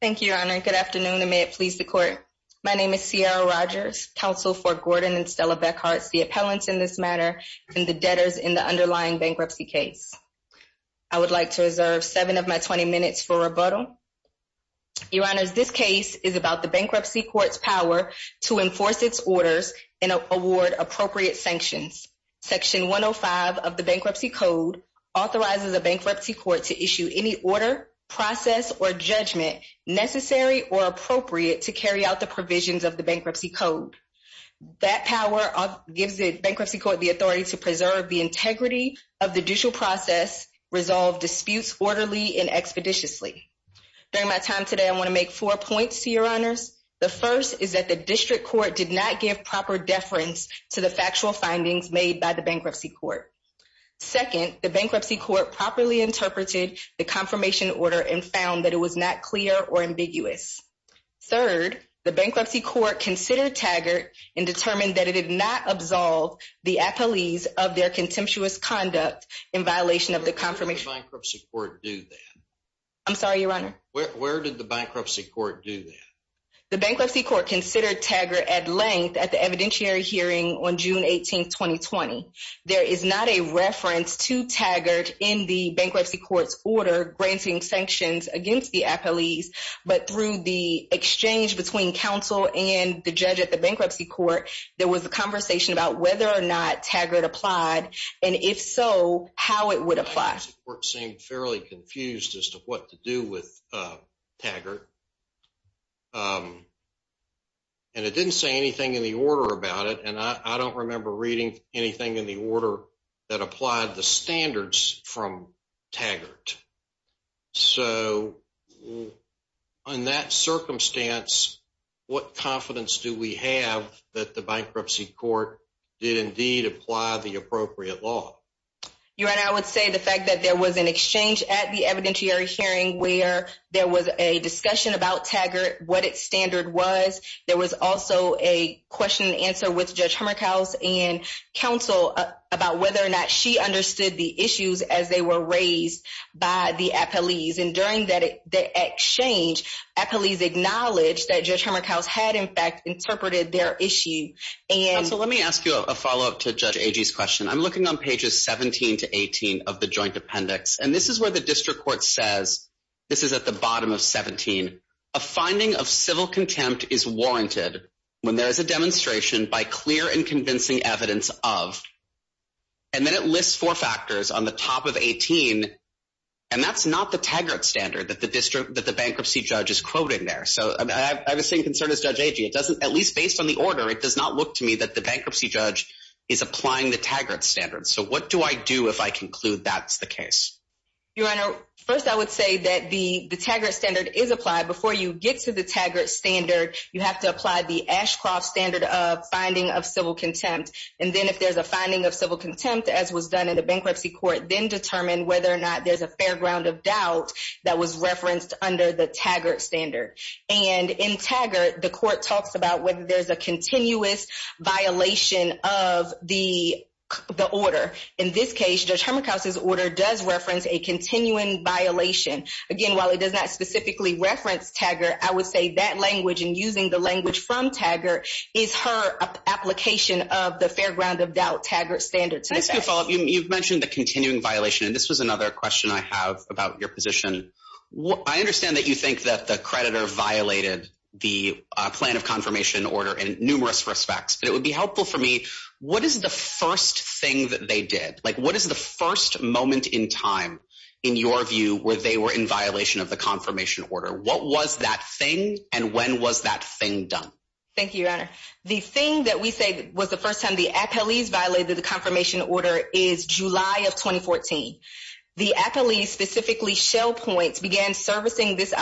Thank you, Your Honor. Good afternoon, and may it please the Court. My name is Ciara Rogers, counsel for Gordon and Stella Beckhart, the appellants in this matter, and the debtors in the underlying bankruptcy case. I would like to reserve seven of my 20 minutes for rebuttal. Your Honor, this case is about the bankruptcy court's power to enforce its orders and award appropriate sanctions. Section 105 of the Bankruptcy Code authorizes a bankruptcy court to issue any order, process, or judgment necessary or appropriate to carry out the provisions of the Bankruptcy Code. That power gives the bankruptcy court the authority to preserve the integrity of the judicial process, resolve disputes orderly and expeditiously. During my time today, I want to make four points to Your Honors. The first is that the district court did not give proper deference to the factual findings made by the bankruptcy court. Second, the bankruptcy court properly interpreted the confirmation order and found that it was not clear or ambiguous. Third, the bankruptcy court considered Taggart and determined that it did not absolve the appellees of their contemptuous conduct in violation of the confirmation— Where did the bankruptcy court do that? I'm sorry, Your Honor? Where did the bankruptcy court do that? The bankruptcy court considered Taggart at length at the evidentiary hearing on June 18, 2020. There is not a reference to Taggart in the bankruptcy court's order granting sanctions against the appellees, but through the exchange between counsel and the judge at the bankruptcy court, there was a conversation about whether or not Taggart applied, and if so, how it would apply. The bankruptcy court seemed fairly confused as to what to do with Taggart, and it didn't say anything in the order about it, and I don't remember reading anything in the order that applied the standards from Taggart. So, in that circumstance, what confidence do we have that the bankruptcy court did indeed apply the appropriate law? Your Honor, I would say the fact that there was an exchange at the evidentiary hearing where there was a discussion about Taggart, what its standard was, there was also a question and answer with Judge Humerkaus and counsel about whether or not she understood the issues as they were raised by the appellees, and during the exchange, appellees acknowledged that Judge Humerkaus had, in fact, interpreted their issue. Counsel, let me ask you a follow-up to Judge Agee's question. I'm looking on pages 17 to 18 of the joint appendix, and this is where the district court says, this is at the bottom of 17, a finding of civil contempt is warranted when there is a demonstration by clear and convincing evidence of, and then it lists four factors on the top of 18, and that's not the Taggart standard that the bankruptcy judge is quoting there. So, I have the same concern as Judge Agee. It doesn't, at least based on the order, it does not look to me that the bankruptcy judge is applying the Taggart standard. So, what do I do if I conclude that's the case? Your Honor, first, I would say that the Taggart standard is applied. Before you get to the Taggart standard, you have to apply the Ashcroft standard of finding of civil contempt, and then if there's a finding of civil contempt, as was done in the bankruptcy court, then determine whether or not there's a fair ground of doubt that was referenced under the Taggart standard, and in Taggart, the court talks about whether there's a continuous violation of the order. In this case, Judge Hermakaus' order does reference a continuing violation. Again, while it does not specifically reference Taggart, I would say that language and using the language from Taggart is her application of the fair ground of doubt Taggart standard. Can I ask you a follow-up? You've mentioned the continuing violation, and this was another question I have about your position. I understand that you think that the creditor violated the plan of confirmation order in numerous respects, but it would be helpful for me, what is the first thing that they did? What is the first moment in time, in your view, where they were in violation of the confirmation order? What was that thing, and when was that thing done? Thank you, Your Honor. The thing that we say was the first time the appellees violated the confirmation order is July of 2014. The appellees, specifically Shell Points, began servicing this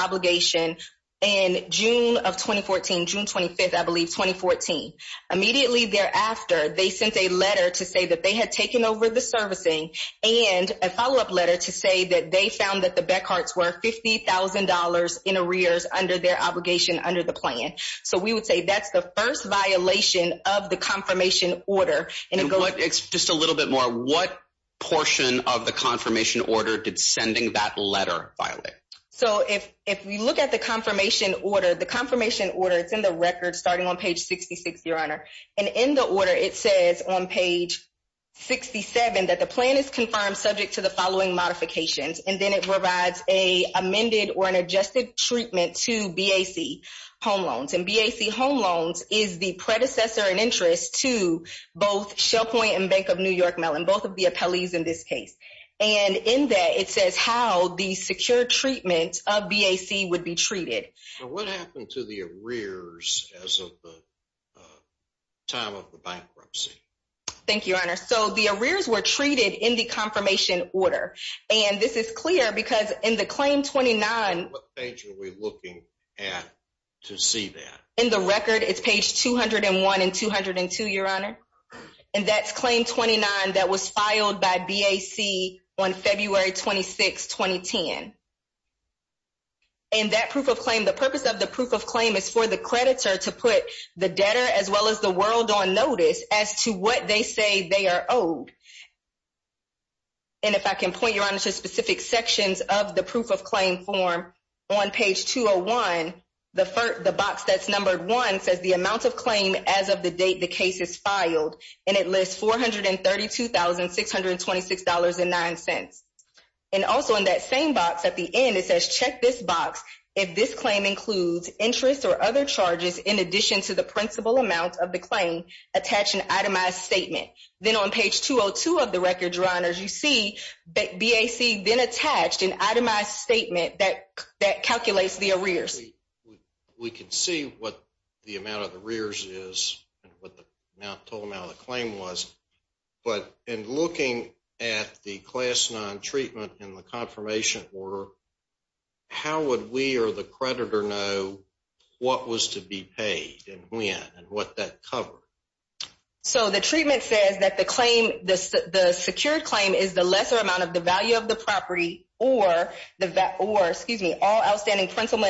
of June of 2014, June 25th, I believe, 2014. Immediately thereafter, they sent a letter to say that they had taken over the servicing, and a follow-up letter to say that they found that the Beckharts were $50,000 in arrears under their obligation under the plan. So, we would say that's the first violation of the confirmation order. And what, just a little bit more, what portion of the confirmation order did sending that letter violate? So, if we look at the confirmation order, the confirmation order, it's in the record starting on page 66, Your Honor. And in the order, it says on page 67 that the plan is confirmed subject to the following modifications, and then it provides an amended or an adjusted treatment to BAC home loans. And BAC home loans is the predecessor in interest to both Shell Point and Bank of New York Mellon, both of the appellees in this case. And in that, it says how the secure treatment of BAC would be treated. So, what happened to the arrears as of the time of the bankruptcy? Thank you, Your Honor. So, the arrears were treated in the confirmation order. And this is clear because in the claim 29... What page are we looking at to see that? In the record, it's page 201 and 202, Your Honor. And that's claim 29 that was filed by BAC on February 26, 2010. And that proof of claim, the purpose of the proof of claim is for the creditor to put the debtor as well as the world on notice as to what they say they are owed. And if I can point, Your Honor, to specific sections of the proof of claim form on page 201, the box that's numbered one says the amount of claim as of the date the case is filed. And it lists $432,626.09. And also in that same box at the end, it says check this box if this claim includes interest or other charges in addition to the principal amount of the claim attached an itemized statement. Then on page 202 of the record, Your Honor, as you see, BAC then attached an itemized statement that calculates the arrears. We can see what the amount of the arrears is and what the total amount of the claim was. But in looking at the class non-treatment in the confirmation order, how would we or the creditor know what was to be paid and when and what that covered? So the treatment says that the claim, the secured claim is the lesser amount of the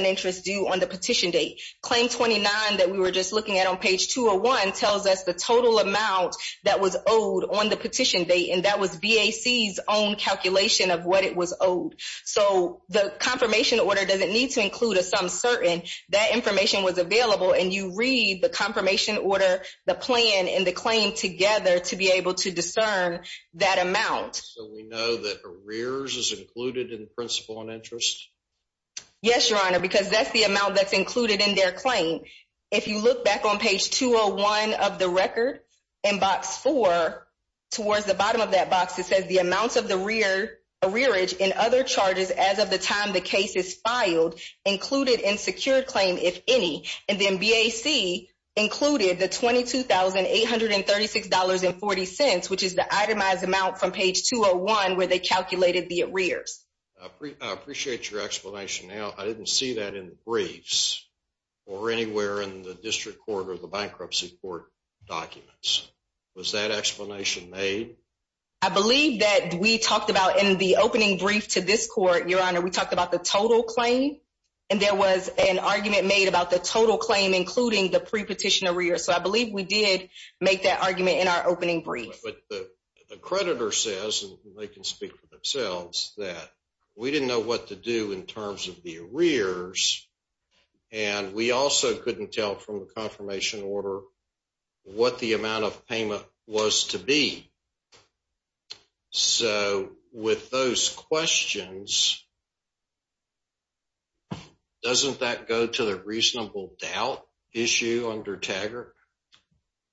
interest due on the petition date. Claim 29 that we were just looking at on page 201 tells us the total amount that was owed on the petition date. And that was BAC's own calculation of what it was owed. So the confirmation order doesn't need to include a some certain. That information was available. And you read the confirmation order, the plan and the claim together to be able to discern that amount. So we know that arrears is included in principal and interest? Yes, Your Honor, because that's the amount that's included in their claim. If you look back on page 201 of the record and box four towards the bottom of that box, it says the amounts of the rear arrearage and other charges as of the time the case is filed, included in secured claim, if any. And then BAC included the $22,836.40, which is the itemized amount from page 201 where they calculated the arrears. I appreciate your explanation. Now, I didn't see that in briefs or anywhere in the district court or the bankruptcy court documents. Was that explanation made? I believe that we talked about in the opening brief to this court, Your Honor, we talked about the total claim. And there was an argument made about the total claim, including the pre-petition arrear. So I believe we did make that argument in our opening brief. But the creditor says, and they can speak for themselves, that we didn't know what to do in terms of the arrears. And we also couldn't tell from the confirmation order what the amount of payment was to be. So with those questions, doesn't that go to the reasonable doubt issue under the contract?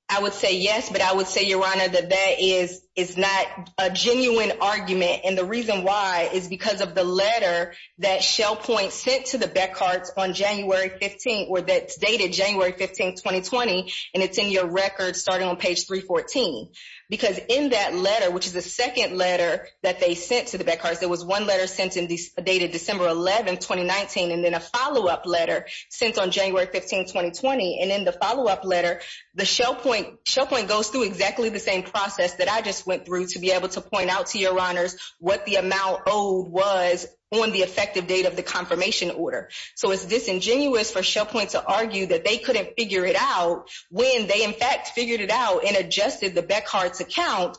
I would say yes, but I would say, Your Honor, that that is not a genuine argument. And the reason why is because of the letter that Shell Point sent to the Beckharts on January 15, or that's dated January 15, 2020, and it's in your record starting on page 314. Because in that letter, which is the second letter that they sent to the Beckharts, there was one letter sent in dated December 11, 2019, and then a follow-up letter sent on January 15, 2020. And in the letter, the Shell Point goes through exactly the same process that I just went through to be able to point out to Your Honors what the amount owed was on the effective date of the confirmation order. So it's disingenuous for Shell Point to argue that they couldn't figure it out when they, in fact, figured it out and adjusted the Beckharts' account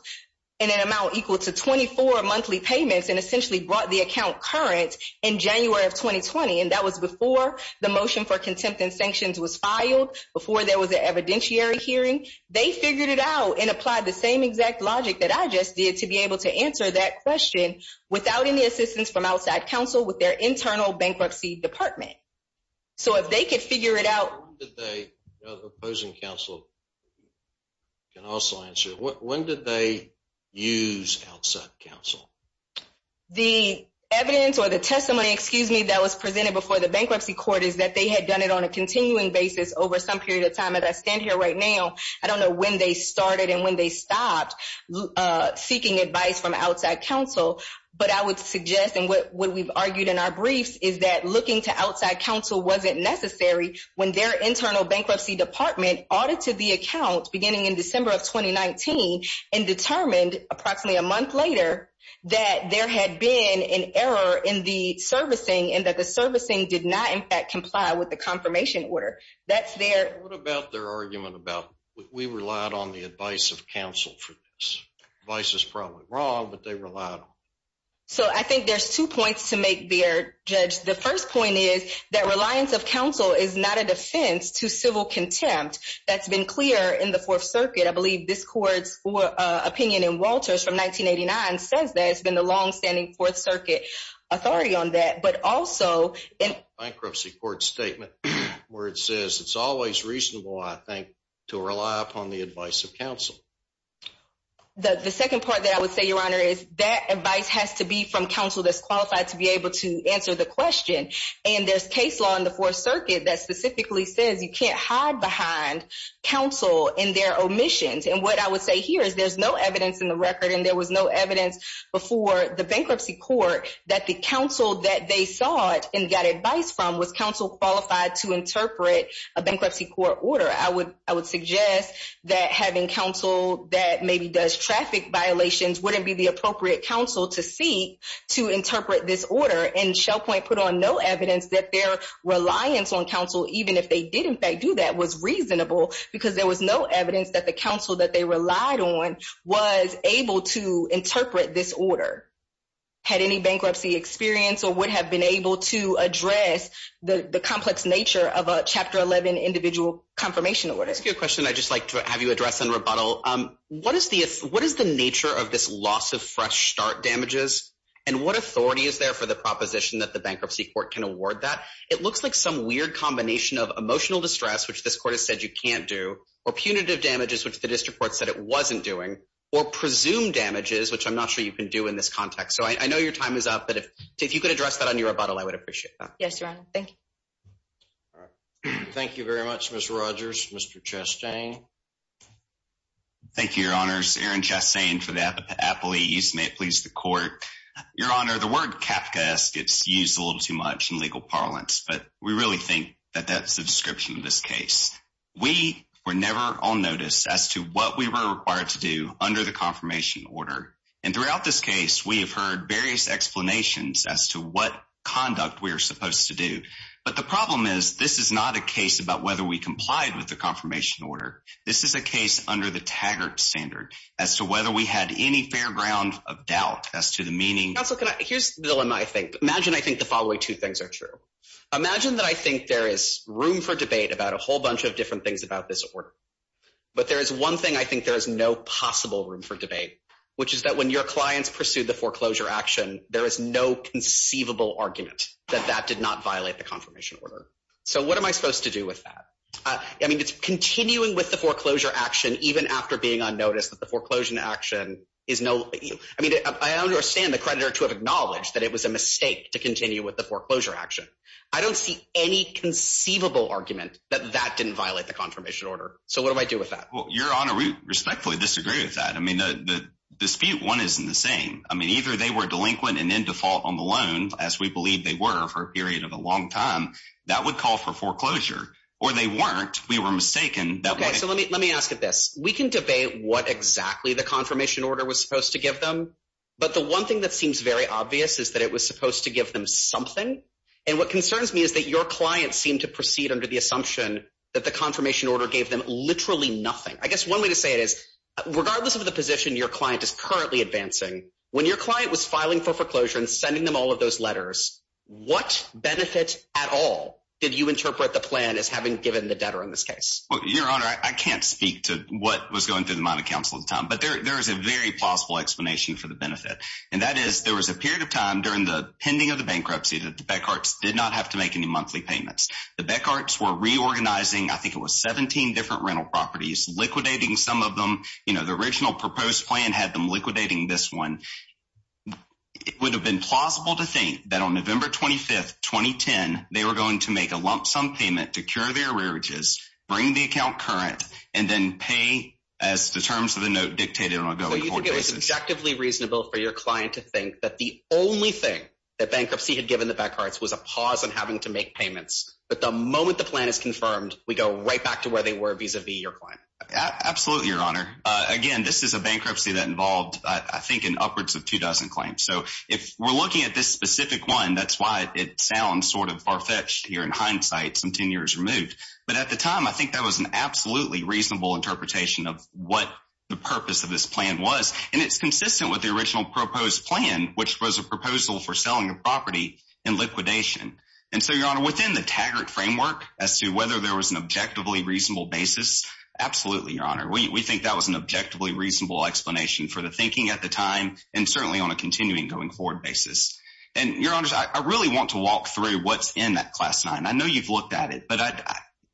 in an amount equal to 24 monthly payments and essentially brought the account current in January of 2020. And that was before the motion for contempt and sanctions was filed, before there was an evidentiary hearing. They figured it out and applied the same exact logic that I just did to be able to answer that question without any assistance from outside counsel with their internal bankruptcy department. So if they could figure it out... When did they, opposing counsel can also answer, when did they use outside counsel? The evidence or the testimony, excuse me, that was presented before the bankruptcy court is they had done it on a continuing basis over some period of time. As I stand here right now, I don't know when they started and when they stopped seeking advice from outside counsel. But I would suggest, and what we've argued in our briefs, is that looking to outside counsel wasn't necessary when their internal bankruptcy department audited the account beginning in December of 2019 and determined approximately a month later that there had been an error in the servicing and that the servicing did not in fact comply with the confirmation order. That's their... What about their argument about we relied on the advice of counsel for this? Advice is probably wrong, but they relied on it. So I think there's two points to make there, Judge. The first point is that reliance of counsel is not a defense to civil contempt. That's been clear in the Fourth Circuit. I believe this court's opinion in Walters from 1989 says that it's been the longstanding Fourth Circuit authority on that. But also... In a bankruptcy court statement where it says it's always reasonable, I think, to rely upon the advice of counsel. The second part that I would say, Your Honor, is that advice has to be from counsel that's qualified to be able to answer the question. And there's case law in the Fourth Circuit that specifically says you can't hide behind counsel in their omissions. And what I would say here is there's no evidence in the record and there was no evidence before the Bankruptcy Court that the counsel that they sought and got advice from was counsel qualified to interpret a bankruptcy court order. I would suggest that having counsel that maybe does traffic violations wouldn't be the appropriate counsel to seek to interpret this order. And Shell Point put on no evidence that their reliance on counsel, even if they did in fact do that, was reasonable because there was no evidence that the counsel that they relied on was able to interpret this order, had any bankruptcy experience, or would have been able to address the complex nature of a Chapter 11 individual confirmation order. Let me ask you a question I'd just like to have you address in rebuttal. What is the nature of this loss of fresh start damages? And what authority is there for the proposition that the Bankruptcy Court can award that? It looks like some weird combination of emotional distress, which this court has said you can't do, or punitive damages, which the district court said it wasn't doing, or presumed damages, which I'm not sure you can do in this context. So I know your time is up, but if you could address that on your rebuttal, I would appreciate that. Yes, Your Honor. Thank you. Thank you very much, Ms. Rogers. Mr. Chastain? Thank you, Your Honors. Aaron Chastain for the Appellees. May it please the Court. Your Honor, the word Kafka gets used a little too much in legal parlance, but we really think that that's the description of this case. We were never on notice as to what we were required to do under the confirmation order. And throughout this case, we have heard various explanations as to what conduct we were supposed to do. But the problem is, this is not a case about whether we complied with the confirmation order. This is a case under the Taggart standard, as to whether we had any fair ground of doubt as to the meaning. Counsel, here's the dilemma I think. Imagine I think the room for debate about a whole bunch of different things about this order. But there is one thing I think there is no possible room for debate, which is that when your clients pursued the foreclosure action, there is no conceivable argument that that did not violate the confirmation order. So what am I supposed to do with that? I mean, it's continuing with the foreclosure action, even after being on notice that the foreclosure action is no, I mean, I understand the creditor to have acknowledged that it was a mistake to continue with the argument that that didn't violate the confirmation order. So what do I do with that? Well, Your Honor, we respectfully disagree with that. I mean, the dispute one isn't the same. I mean, either they were delinquent and in default on the loan, as we believe they were for a period of a long time, that would call for foreclosure, or they weren't, we were mistaken. Okay, so let me ask you this. We can debate what exactly the confirmation order was supposed to give them. But the one thing that seems very obvious is that it was supposed to give them something. And what concerns me is that your client seemed to proceed under the assumption that the confirmation order gave them literally nothing. I guess one way to say it is, regardless of the position your client is currently advancing, when your client was filing for foreclosure and sending them all of those letters, what benefit at all did you interpret the plan as having given the debtor in this case? Well, Your Honor, I can't speak to what was going through the mind of counsel at the time. But there is a very plausible explanation for the benefit. And that is, there was a period of time during the pending of the bankruptcy that the Beckharts did not have to make any monthly payments. The Beckharts were reorganizing, I think it was 17 different rental properties, liquidating some of them. You know, the original proposed plan had them liquidating this one. It would have been plausible to think that on November 25, 2010, they were going to make a lump sum payment to cure their arrearages, bring the account current, and then pay as the terms of the note dictated on a going forward objectively reasonable for your client to think that the only thing that bankruptcy had given the Beckharts was a pause on having to make payments. But the moment the plan is confirmed, we go right back to where they were vis-a-vis your client. Absolutely, Your Honor. Again, this is a bankruptcy that involved, I think, an upwards of two dozen claims. So if we're looking at this specific one, that's why it sounds sort of far fetched here in hindsight, some 10 years removed. But at the time, I think that was an absolutely reasonable interpretation of what the purpose of this was. And it's consistent with the original proposed plan, which was a proposal for selling a property in liquidation. And so, Your Honor, within the Taggart framework as to whether there was an objectively reasonable basis, absolutely, Your Honor. We think that was an objectively reasonable explanation for the thinking at the time and certainly on a continuing going forward basis. And Your Honors, I really want to walk through what's in that class nine. I know you've looked at it, but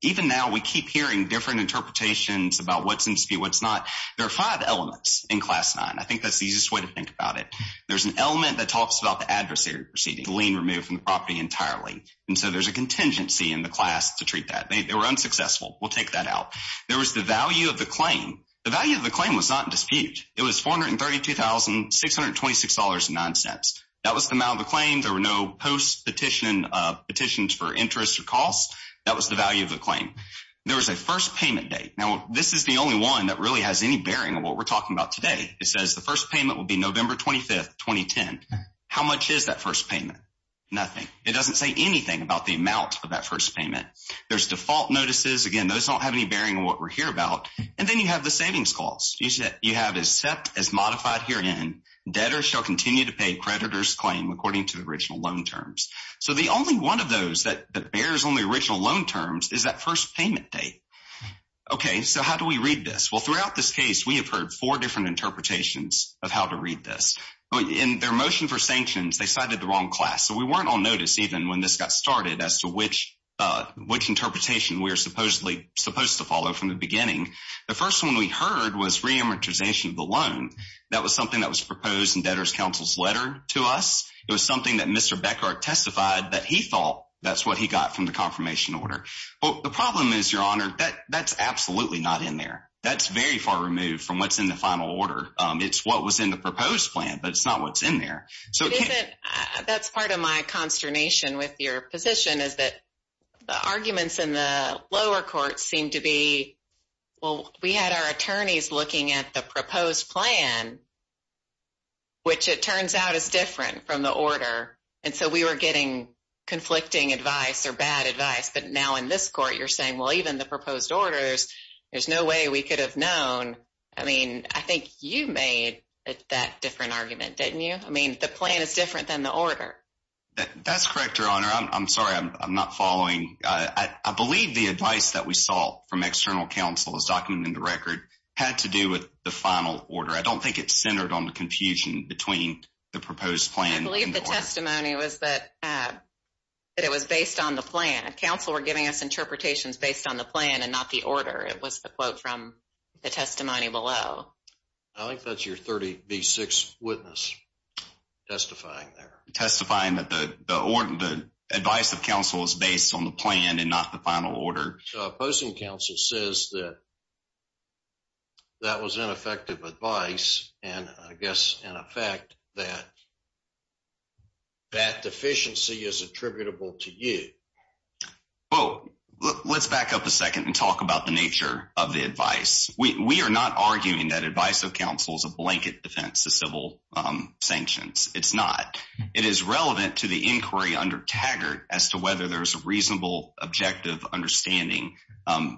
even now we keep hearing different interpretations about what's in dispute, there are five elements in class nine. I think that's the easiest way to think about it. There's an element that talks about the adversary proceeding, the lien removed from the property entirely. And so there's a contingency in the class to treat that. They were unsuccessful. We'll take that out. There was the value of the claim. The value of the claim was not in dispute. It was $432,626.09. That was the amount of the claim. There were no post petitions for interest or costs. That was the value of the claim. There was a first payment date. Now, this is the only one that really has any bearing on what we're talking about today. It says the first payment will be November 25th, 2010. How much is that first payment? Nothing. It doesn't say anything about the amount of that first payment. There's default notices. Again, those don't have any bearing on what we're here about. And then you have the savings calls. You have as set as modified here in debtor shall continue to pay creditor's claim according to the original loan terms. So the only one of those that bears on the original loan terms is that first payment date. Okay. So how do we read this? Well, throughout this case, we have heard four different interpretations of how to read this. In their motion for sanctions, they cited the wrong class. So we weren't on notice even when this got started as to which interpretation we were supposed to follow from the beginning. The first one we heard was reamortization of the loan. That was something that was proposed in debtor's counsel's letter to us. It was something that Mr. Becker testified that he thought that's what he got from the confirmation order. Well, the problem is, your honor, that that's absolutely not in there. That's very far removed from what's in the final order. It's what was in the proposed plan, but it's not what's in there. So that's part of my consternation with your position is that the arguments in the lower court seemed to be well, we had our attorneys looking at the proposed plan, which it turns out is different from the order. And so we were getting conflicting advice or bad advice. But now in this court, you're saying, well, even the proposed orders, there's no way we could have known. I mean, I think you made that different argument, didn't you? I mean, the plan is different than the order. That's correct, your honor. I'm sorry. I'm not following. I believe the advice that we saw from external counsel is documented in the record had to do with the final order. I don't think it's centered on the confusion between the proposed plan. I believe testimony was that it was based on the plan. Counsel were giving us interpretations based on the plan and not the order. It was the quote from the testimony below. I think that's your 30 v. 6 witness testifying there. Testifying that the advice of counsel is based on the plan and not the final order. Opposing counsel says that that was ineffective advice. And I guess in effect that that deficiency is attributable to you. Well, let's back up a second and talk about the nature of the advice. We are not arguing that advice of counsel is a blanket defense to civil sanctions. It's not. It is relevant to the inquiry under Taggart as to whether there's a reasonable, objective understanding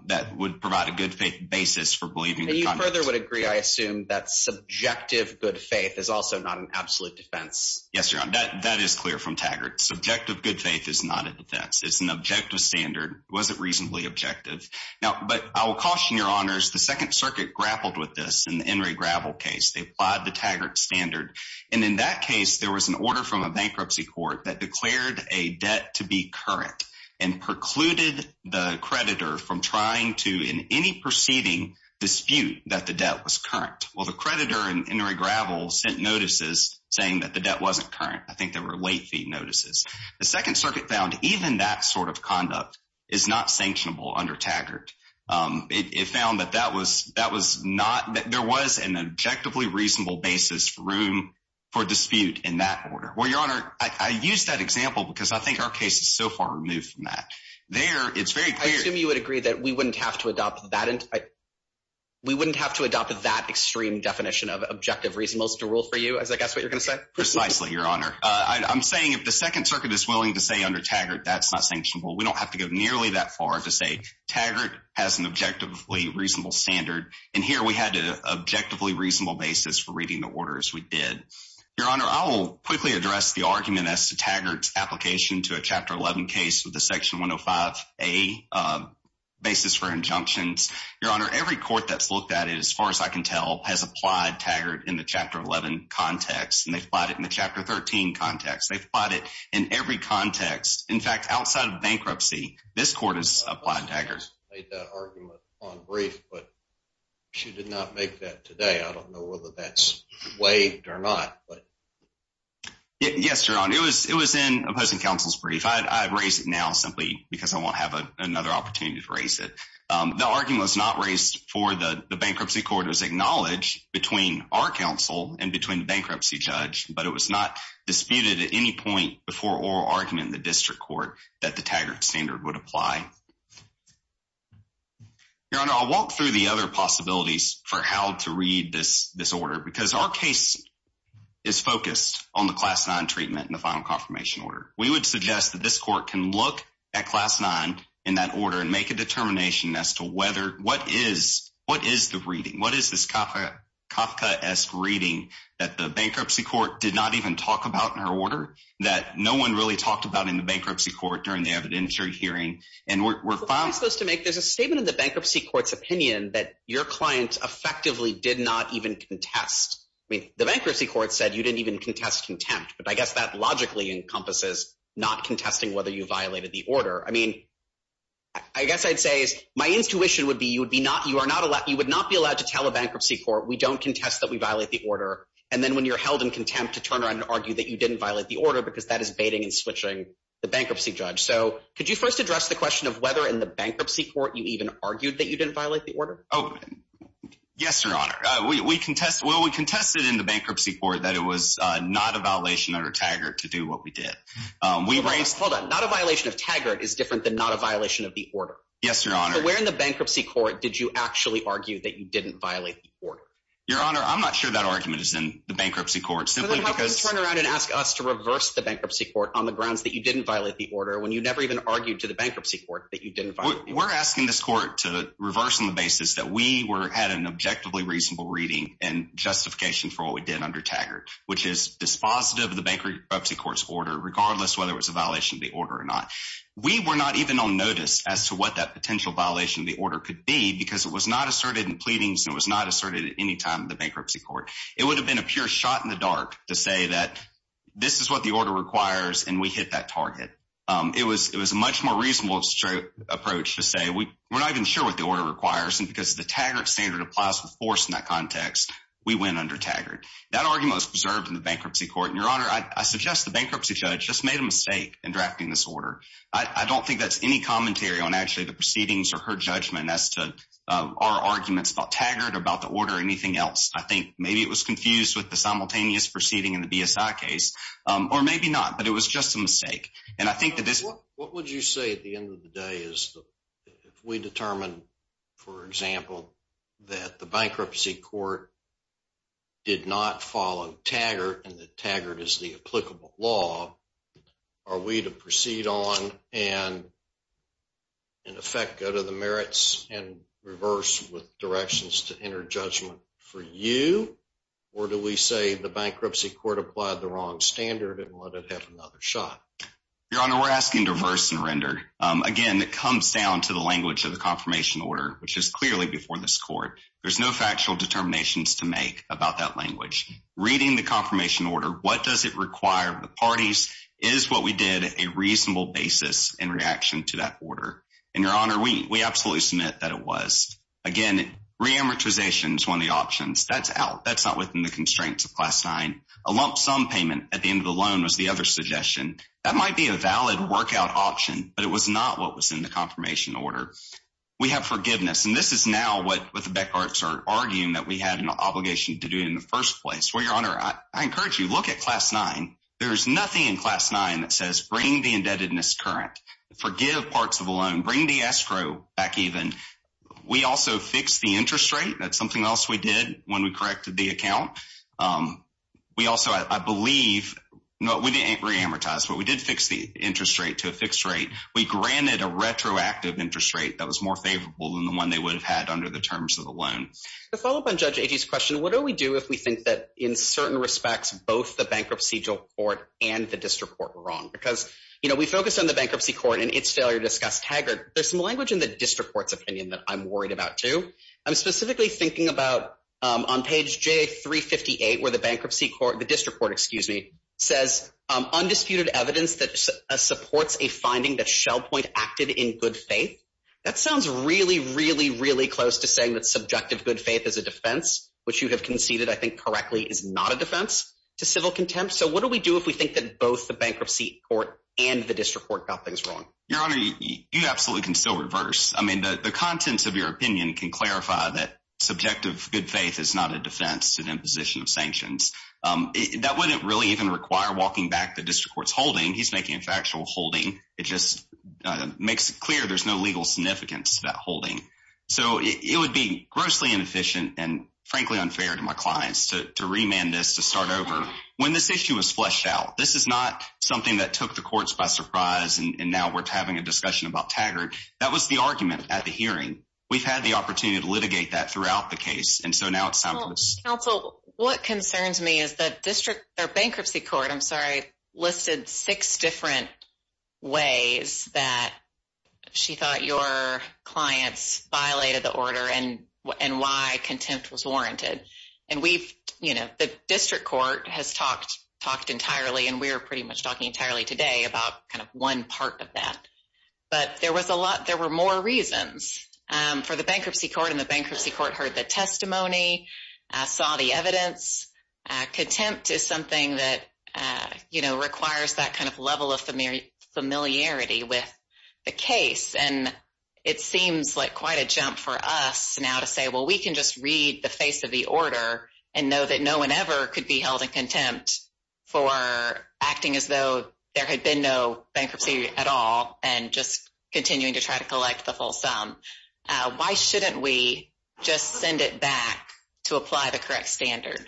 that would provide a good faith basis for believing. You further would agree, I assume, that subjective good faith is also not an absolute defense. Yes, your honor. That is clear from Taggart. Subjective good faith is not a defense. It's an objective standard. It wasn't reasonably objective. Now, but I will caution your honors, the Second Circuit grappled with this in the Enri Gravel case. They applied the Taggart standard. And in that case, there was an order from a bankruptcy court that declared a debt to be and precluded the creditor from trying to, in any proceeding, dispute that the debt was current. Well, the creditor in Enri Gravel sent notices saying that the debt wasn't current. I think there were late fee notices. The Second Circuit found even that sort of conduct is not sanctionable under Taggart. It found that there was an objectively reasonable basis for dispute in that order. Well, your honor, I use that example because I think our case is so far removed from that. There, it's very clear. I assume you would agree that we wouldn't have to adopt that extreme definition of objective reasonableness to rule for you. Is that what you're going to say? Precisely, your honor. I'm saying if the Second Circuit is willing to say under Taggart, that's not sanctionable. We don't have to go nearly that far to say Taggart has an objectively reasonable standard. And here, we had an objectively reasonable basis for reading the order as we did. Your honor, I will quickly address the argument as to Taggart's application to a Chapter 11 case with a Section 105a basis for injunctions. Your honor, every court that's looked at it, as far as I can tell, has applied Taggart in the Chapter 11 context, and they've applied it in the Chapter 13 context. They've applied it in every context. In fact, outside of bankruptcy, this court has applied Taggart. I made that argument on brief, but she did not make that today. I don't know whether that's waived or not. Yes, your honor, it was in opposing counsel's brief. I've raised it now simply because I won't have another opportunity to raise it. The argument was not raised for the bankruptcy court. It was acknowledged between our counsel and between the bankruptcy judge, but it was not disputed at any point before oral argument in the district court that the Taggart standard would apply. Your honor, I'll walk through the other possibilities for how to read this order, because our case is focused on the Class 9 treatment and the final confirmation order. We would suggest that this court can look at Class 9 in that order and make a determination as to what is the reading, what is this Kafka-esque reading that the bankruptcy court did not even talk about in her order, that no one really talked about in the bankruptcy court during the evidentiary hearing. What am I supposed to make? There's a statement in the bankruptcy court's opinion that your client effectively did not even contest. I mean, the bankruptcy court said you didn't even contest contempt, but I guess that logically encompasses not contesting whether you violated the order. I mean, I guess I'd say my intuition would be you would not be allowed to tell a bankruptcy court we don't contest that we violate the order, and then when you're held in contempt to turn around and argue that you didn't violate the order because that is baiting and switching the bankruptcy judge. So could you first address the question of in the bankruptcy court you even argued that you didn't violate the order? Yes, Your Honor. We contested in the bankruptcy court that it was not a violation under Taggart to do what we did. Hold on. Not a violation of Taggart is different than not a violation of the order? Yes, Your Honor. So where in the bankruptcy court did you actually argue that you didn't violate the order? Your Honor, I'm not sure that argument is in the bankruptcy court. So then how can you turn around and ask us to reverse the bankruptcy court on the grounds that you never even argued to the bankruptcy court that you didn't violate the order? We're asking this court to reverse on the basis that we had an objectively reasonable reading and justification for what we did under Taggart, which is dispositive of the bankruptcy court's order regardless of whether it was a violation of the order or not. We were not even on notice as to what that potential violation of the order could be because it was not asserted in pleadings and it was not asserted at any time in the bankruptcy court. It would have been a pure shot in the dark to say that this is what the order requires and we hit that target. It was a much more reasonable approach to say we're not even sure what the order requires and because the Taggart standard applies with force in that context, we went under Taggart. That argument was preserved in the bankruptcy court. Your Honor, I suggest the bankruptcy judge just made a mistake in drafting this order. I don't think that's any commentary on actually the proceedings or her judgment as to our arguments about Taggart or about the order or anything else. I think maybe it was confused with the simultaneous proceeding in the BSI case or maybe not, but it was just a mistake. What would you say at the end of the day is if we determine, for example, that the bankruptcy court did not follow Taggart and that Taggart is the applicable law, are we to proceed on and in effect go to the merits and reverse with you or do we say the bankruptcy court applied the wrong standard and let it have another shot? Your Honor, we're asking diverse and rendered. Again, it comes down to the language of the confirmation order, which is clearly before this court. There's no factual determinations to make about that language. Reading the confirmation order, what does it require of the parties is what we did a reasonable basis in reaction to that order. Your Honor, we absolutely submit that it was. Again, reamortization is one of the options. That's out. That's not within the constraints of Class 9. A lump sum payment at the end of the loan was the other suggestion. That might be a valid workout option, but it was not what was in the confirmation order. We have forgiveness, and this is now what the Beckharts are arguing that we had an obligation to do in the first place. Your Honor, I encourage you to look at Class 9. There's nothing in Class 9 that says bring the indebtedness current, forgive parts of the loan, bring the escrow back even. We also fixed the interest rate. That's something else we did when we corrected the account. We also, I believe, we didn't reamortize, but we did fix the interest rate to a fixed rate. We granted a retroactive interest rate that was more favorable than the one they would have had under the terms of the loan. To follow up on Judge Agee's question, what do we do if we think that in certain respects, both the bankruptcy court and the district court were wrong? Because, you know, we focused on the bankruptcy court and its failure to discuss Haggard. There's some in the district court's opinion that I'm worried about too. I'm specifically thinking about on page J358 where the bankruptcy court, the district court, excuse me, says undisputed evidence that supports a finding that Shell Point acted in good faith. That sounds really, really, really close to saying that subjective good faith is a defense, which you have conceded, I think correctly, is not a defense to civil contempt. So what do we do if we think that both the bankruptcy court and the district court got things wrong? Your Honor, you absolutely can still reverse. I mean, the contents of your opinion can clarify that subjective good faith is not a defense to the imposition of sanctions. That wouldn't really even require walking back the district court's holding. He's making a factual holding. It just makes it clear there's no legal significance to that holding. So it would be grossly inefficient and frankly unfair to my clients to remand this to start over when this issue was fleshed out. This is not something that took the courts by surprise and now we're having a discussion about Taggart. That was the argument at the hearing. We've had the opportunity to litigate that throughout the case and so now it's time for this. Counsel, what concerns me is that district or bankruptcy court, I'm sorry, listed six different ways that she thought your clients violated the order and why contempt was warranted. And we've, you know, the district court has talked entirely and we're pretty much talking entirely today about kind of one part of that. But there was a lot, there were more reasons for the bankruptcy court and the bankruptcy court heard the testimony, saw the evidence. Contempt is something that, you know, requires that kind of level of familiarity with the case. And it seems like quite a jump for us now to say, well, we can just read the face of the order and know that no one ever could be held in contempt for acting as though there had been no bankruptcy at all and just continuing to try to collect the full sum. Why shouldn't we just send it back to apply the correct standard?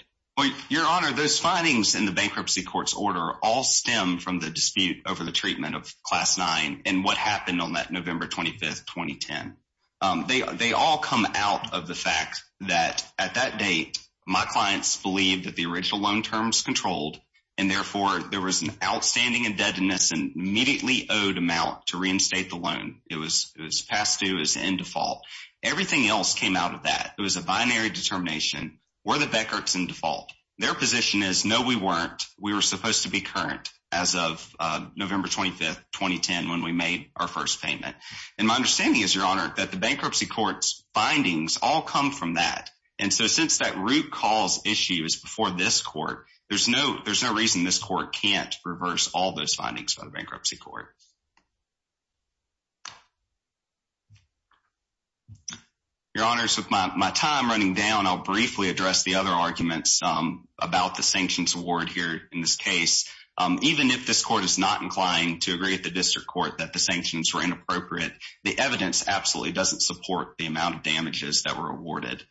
Your Honor, those findings in the bankruptcy court's order all stem from the dispute over the treatment of Class 9 and what that at that date, my clients believe that the original loan terms controlled and therefore there was an outstanding indebtedness and immediately owed amount to reinstate the loan. It was past due as in default. Everything else came out of that. It was a binary determination. Were the Beckerts in default? Their position is no, we weren't. We were supposed to be current as of November 25th, 2010 when we made our first payment. And my understanding is, Your Honor, that the bankruptcy court's findings all come from that. And so since that root cause issue is before this court, there's no reason this court can't reverse all those findings by the bankruptcy court. Your Honor, so my time running down, I'll briefly address the other arguments about the sanctions award here in this case. Even if this court is not inclined to agree with the district court that the sanctions were inappropriate, the evidence absolutely doesn't support the amount of damages that were awarded.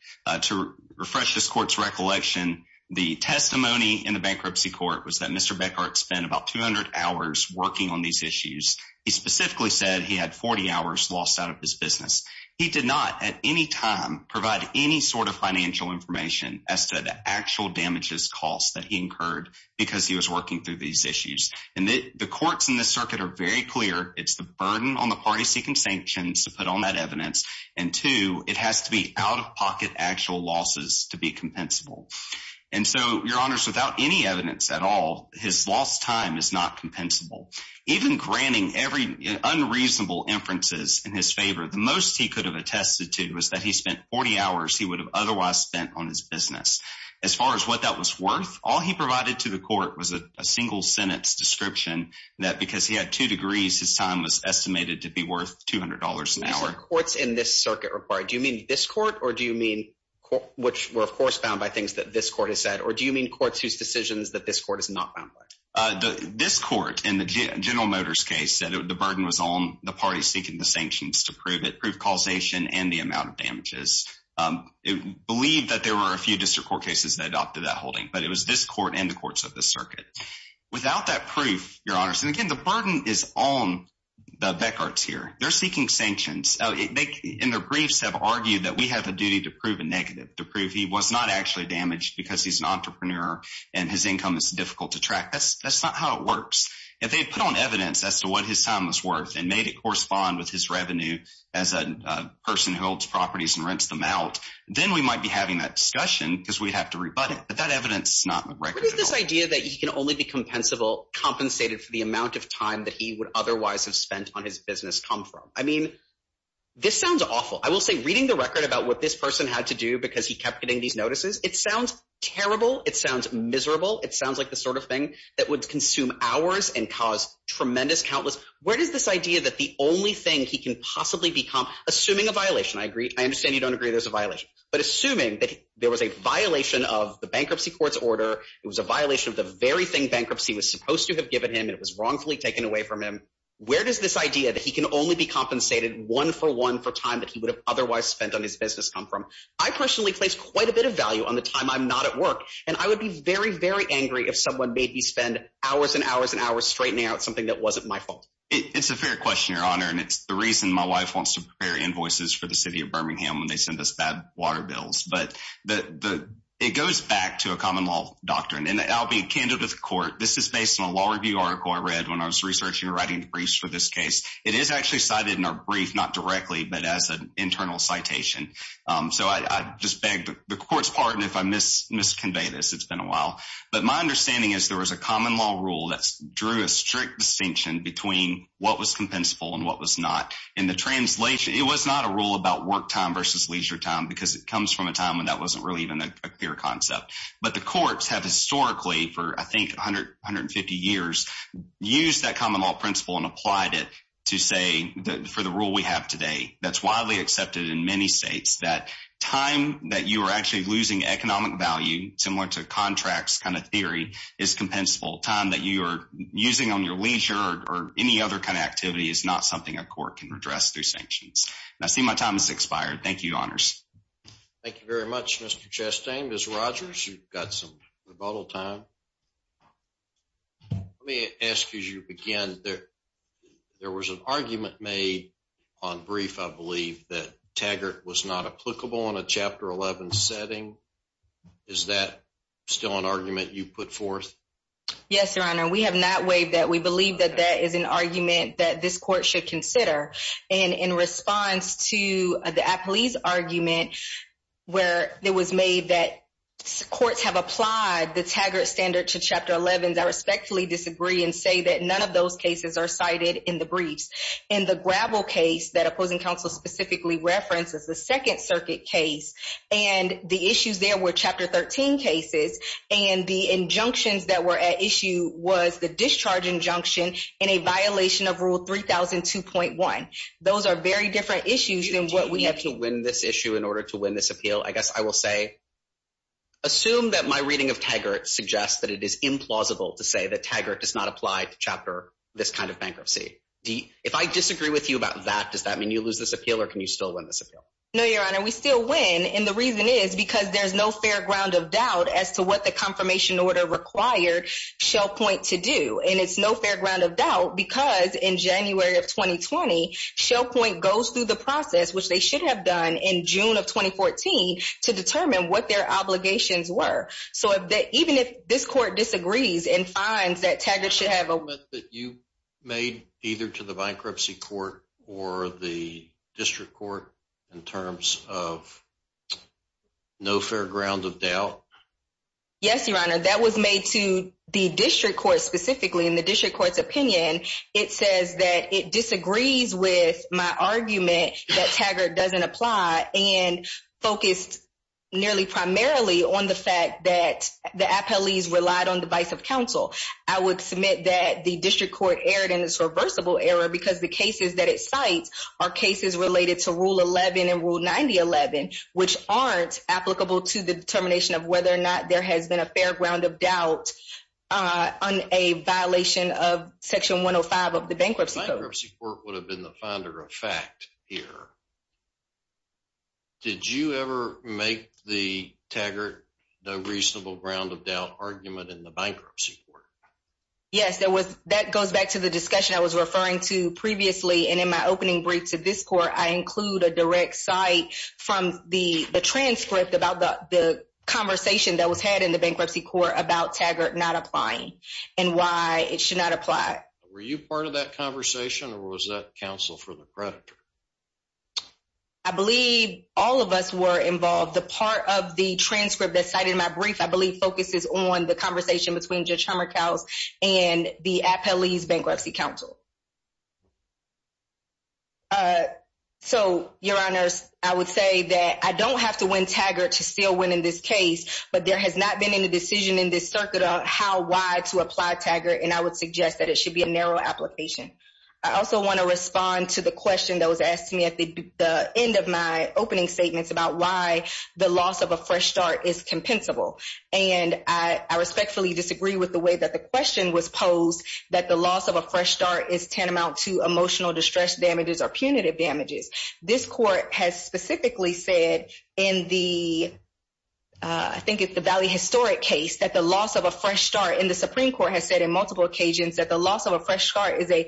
To refresh this court's recollection, the testimony in the bankruptcy court was that Mr. Beckert spent about 200 hours working on these issues. He specifically said he had 40 hours lost out of his business. He did not at any time provide any sort of financial information as to the actual damages costs that he incurred because he was working through these It's the burden on the party seeking sanctions to put on that evidence, and two, it has to be out of pocket actual losses to be compensable. And so, Your Honor, without any evidence at all, his lost time is not compensable. Even granting every unreasonable inferences in his favor, the most he could have attested to is that he spent 40 hours he would have otherwise spent on his business. As far as what that was worth, all he provided to the court was a single sentence description that because he had two degrees, his time was estimated to be worth $200 an hour. These are courts in this circuit required. Do you mean this court, or do you mean which were, of course, bound by things that this court has said? Or do you mean courts whose decisions that this court is not bound by? This court, in the General Motors case, said the burden was on the party seeking the sanctions to prove it, prove causation and the amount of damages. It believed that there were a few district court cases that adopted that holding, but it was this court and circuit. Without that proof, Your Honors, and again, the burden is on the Beckards here. They're seeking sanctions, and their briefs have argued that we have a duty to prove a negative, to prove he was not actually damaged because he's an entrepreneur and his income is difficult to track. That's not how it works. If they put on evidence as to what his time was worth and made it correspond with his revenue as a person who holds properties and rents them out, then we might be having that discussion because we'd have to rebut it. But that evidence is not right. What is this idea that he can only be compensated for the amount of time that he would otherwise have spent on his business come from? I mean, this sounds awful. I will say reading the record about what this person had to do because he kept getting these notices, it sounds terrible. It sounds miserable. It sounds like the sort of thing that would consume hours and cause tremendous countless. Where does this idea that the only thing he can possibly become, assuming a violation, I agree, I understand you don't agree there's a violation, but assuming that there was a violation of the bankruptcy court's order, it was a violation of the very thing bankruptcy was supposed to have given him, it was wrongfully taken away from him. Where does this idea that he can only be compensated one for one for time that he would have otherwise spent on his business come from? I personally place quite a bit of value on the time I'm not at work. And I would be very, very angry if someone made me spend hours and hours and hours straightening out something that wasn't my fault. It's a fair question, your honor. And it's the reason my wife wants to prepare invoices for the city of Birmingham when they send us bad water bills. But it goes back to a common law doctrine. And I'll be a candidate of the court. This is based on a law review article I read when I was researching writing briefs for this case. It is actually cited in our brief, not directly, but as an internal citation. So I just begged the court's pardon if I miss convey this, it's been a while. But my understanding is there was a common law rule that drew a strict distinction between what was compensable and what was not in the translation. It was not a rule about work time versus leisure time, because it comes from a time when that wasn't really even a clear concept. But the courts have historically for I think 100, 150 years, use that common law principle and applied it to say that for the rule we have today, that's widely accepted in many states that time that you are actually losing economic value, similar to contracts kind of theory is compensable time that you are using on your leisure or any other kind of activity is not something a court can address through sanctions. I see my time is expired. Thank you, honors. Thank you very much, Mr. Chastain. Ms. Rogers, you've got some rebuttal time. Let me ask you again, there was an argument made on brief, I believe that Taggart was not applicable on a chapter 11 setting. Is that still an argument you put forth? Yes, your honor, we have not waived that we believe that that is an argument that this court should consider. And in response to the police argument, where it was made that courts have applied the Taggart standard to chapter 11, I respectfully disagree and say that none of those cases are cited in the briefs. In the gravel case that the issues there were chapter 13 cases, and the injunctions that were at issue was the discharge injunction in a violation of rule 3002.1. Those are very different issues than what we have to win this issue in order to win this appeal. I guess I will say, assume that my reading of Taggart suggests that it is implausible to say that Taggart does not apply to chapter this kind of bankruptcy. If I disagree with you about that, does that mean you lose this appeal? Or can you win this appeal? No, your honor, we still win. And the reason is because there's no fair ground of doubt as to what the confirmation order required ShellPoint to do. And it's no fair ground of doubt because in January of 2020, ShellPoint goes through the process, which they should have done in June of 2014, to determine what their obligations were. So if that even if this court disagrees and finds that Taggart should have a that you made either to the bankruptcy court or the district court in terms of no fair ground of doubt. Yes, your honor, that was made to the district court specifically in the district court's opinion. It says that it disagrees with my argument that Taggart doesn't apply and focused nearly primarily on the fact that the appellees relied on the vice of counsel. I would submit that the district court erred in this reversible error because the cases that it cites are cases related to rule 11 and rule 9011, which aren't applicable to the determination of whether or not there has been a fair ground of doubt on a violation of section 105 of the bankruptcy. Bankruptcy court would have been the founder of fact here. Did you ever make the Taggart no reasonable ground of doubt argument in the bankruptcy court? Yes, there was. That goes back to the discussion I was referring to previously. And in my opening brief to this court, I include a direct site from the transcript about the conversation that was had in the bankruptcy court about Taggart not applying and why it should not apply. Were you part of that conversation or was that counsel for the creditor? I believe all of us were involved. The part of the transcript that cited my brief, I believe, focuses on the conversation between Judge Hummerkous and the appellee's bankruptcy counsel. So, your honors, I would say that I don't have to win Taggart to still win in this case, but there has not been any decision in this circuit on how, why to apply Taggart. And I would suggest that it should be a narrow application. I also want to respond to the question that was asked to me at the end of my opening statements about why the loss of a fresh start is compensable. And I respectfully disagree with the way that the question was posed, that the loss of a fresh start is tantamount to emotional distress damages or punitive damages. This court has specifically said in the, I think it's the Valley Historic case, that the loss of a fresh start in the Supreme Court has said in multiple occasions that the loss of a fresh start is a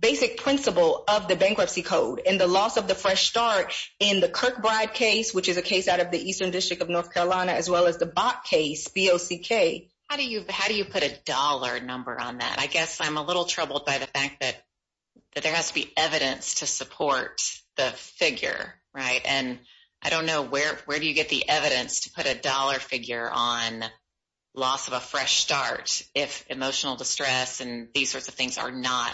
basic principle of the bankruptcy code. And the loss of the fresh start in the Kirkbride case, which is a case out of the Eastern District of North Carolina, as well as the Bok case, B-O-C-K. How do you, how do you put a dollar number on that? I guess I'm a little troubled by the fact that, that there has to be evidence to support the figure, right? And I don't know where, where do you get the evidence to put a dollar figure on loss of a fresh start if emotional distress and these sorts of things are not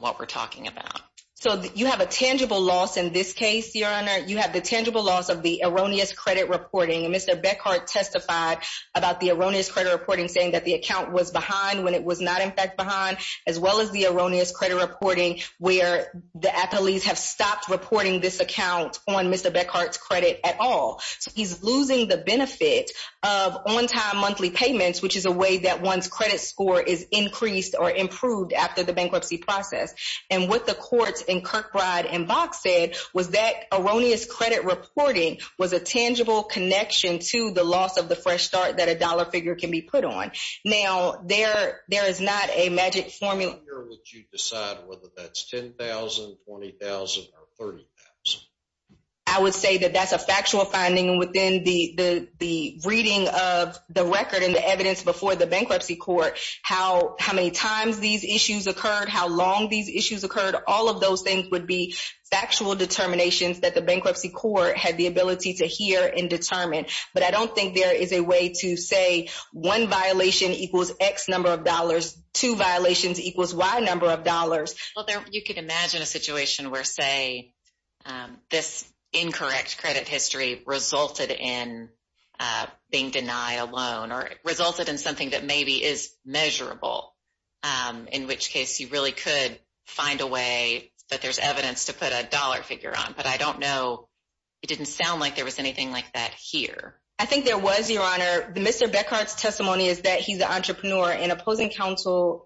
what we're talking about? So you have a tangible loss in this case, Your Honor. You have the tangible loss of the erroneous credit reporting. And Mr. Beckhardt testified about the erroneous credit reporting, saying that the account was behind when it was not in fact behind, as well as the erroneous credit reporting, where the athletes have stopped reporting this account on Mr. Beckhardt's credit at all. So he's losing the benefit of on-time monthly payments, which is a way that one's Kirkbride and Bok said was that erroneous credit reporting was a tangible connection to the loss of the fresh start that a dollar figure can be put on. Now there, there is not a magic formula. How would you decide whether that's 10,000, 20,000 or 30,000? I would say that that's a factual finding within the, the, the reading of the record and the evidence before the bankruptcy court, how, how many times these issues occurred, how long these things would be factual determinations that the bankruptcy court had the ability to hear and determine. But I don't think there is a way to say one violation equals X number of dollars, two violations equals Y number of dollars. Well, there, you could imagine a situation where say, this incorrect credit history resulted in being denied a loan or resulted in something that maybe is measurable. In which case you really could find a way that there's evidence to put a dollar figure on, but I don't know. It didn't sound like there was anything like that here. I think there was your honor. The Mr. Beckhart's testimony is that he's an entrepreneur and opposing counsel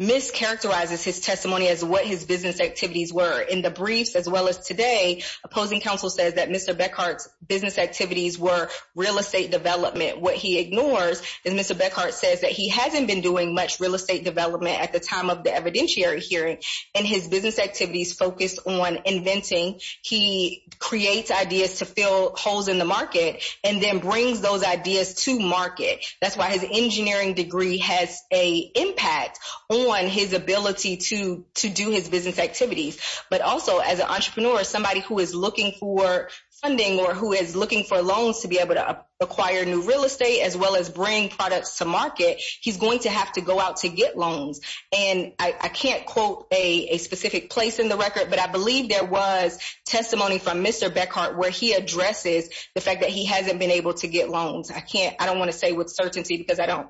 mischaracterizes his testimony as what his business activities were in the briefs, as well as today, opposing counsel says that Mr. Beckhart's business activities were real estate development. What he ignores is Mr. Beckhart says that he hasn't been doing much real estate development at the time of the evidentiary hearing and his business activities focused on inventing. He creates ideas to fill holes in the market and then brings those ideas to market. That's why his engineering degree has a impact on his ability to, to do his business activities. But also as an entrepreneur, somebody who is looking for funding or who is looking for loans to be able to acquire new real estate, as well as bring products to market, he's going to have to go out to get loans. And I can't quote a specific place in the record, but I believe there was testimony from Mr. Beckhart, where he addresses the fact that he hasn't been able to get loans. I can't, I don't want to say with certainty because I don't,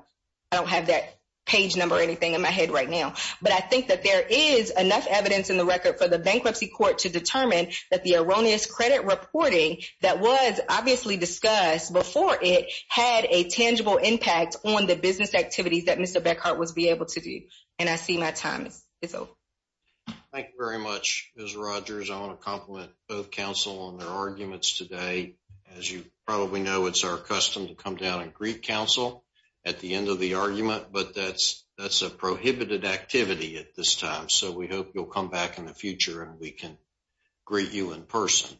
I don't have that page number or anything in my head right now, but I think that there is enough evidence in the record for the bankruptcy court to determine that the erroneous credit reporting that was obviously discussed before it had a tangible impact on the business activities that Mr. Beckhart was able to do. And I see my time is over. Thank you very much, Ms. Rogers. I want to compliment both counsel on their arguments today. As you probably know, it's our custom to come down and greet counsel at the end of the argument, but that's, that's a prohibited activity at this time. So we hope you'll come back in the greet you in person.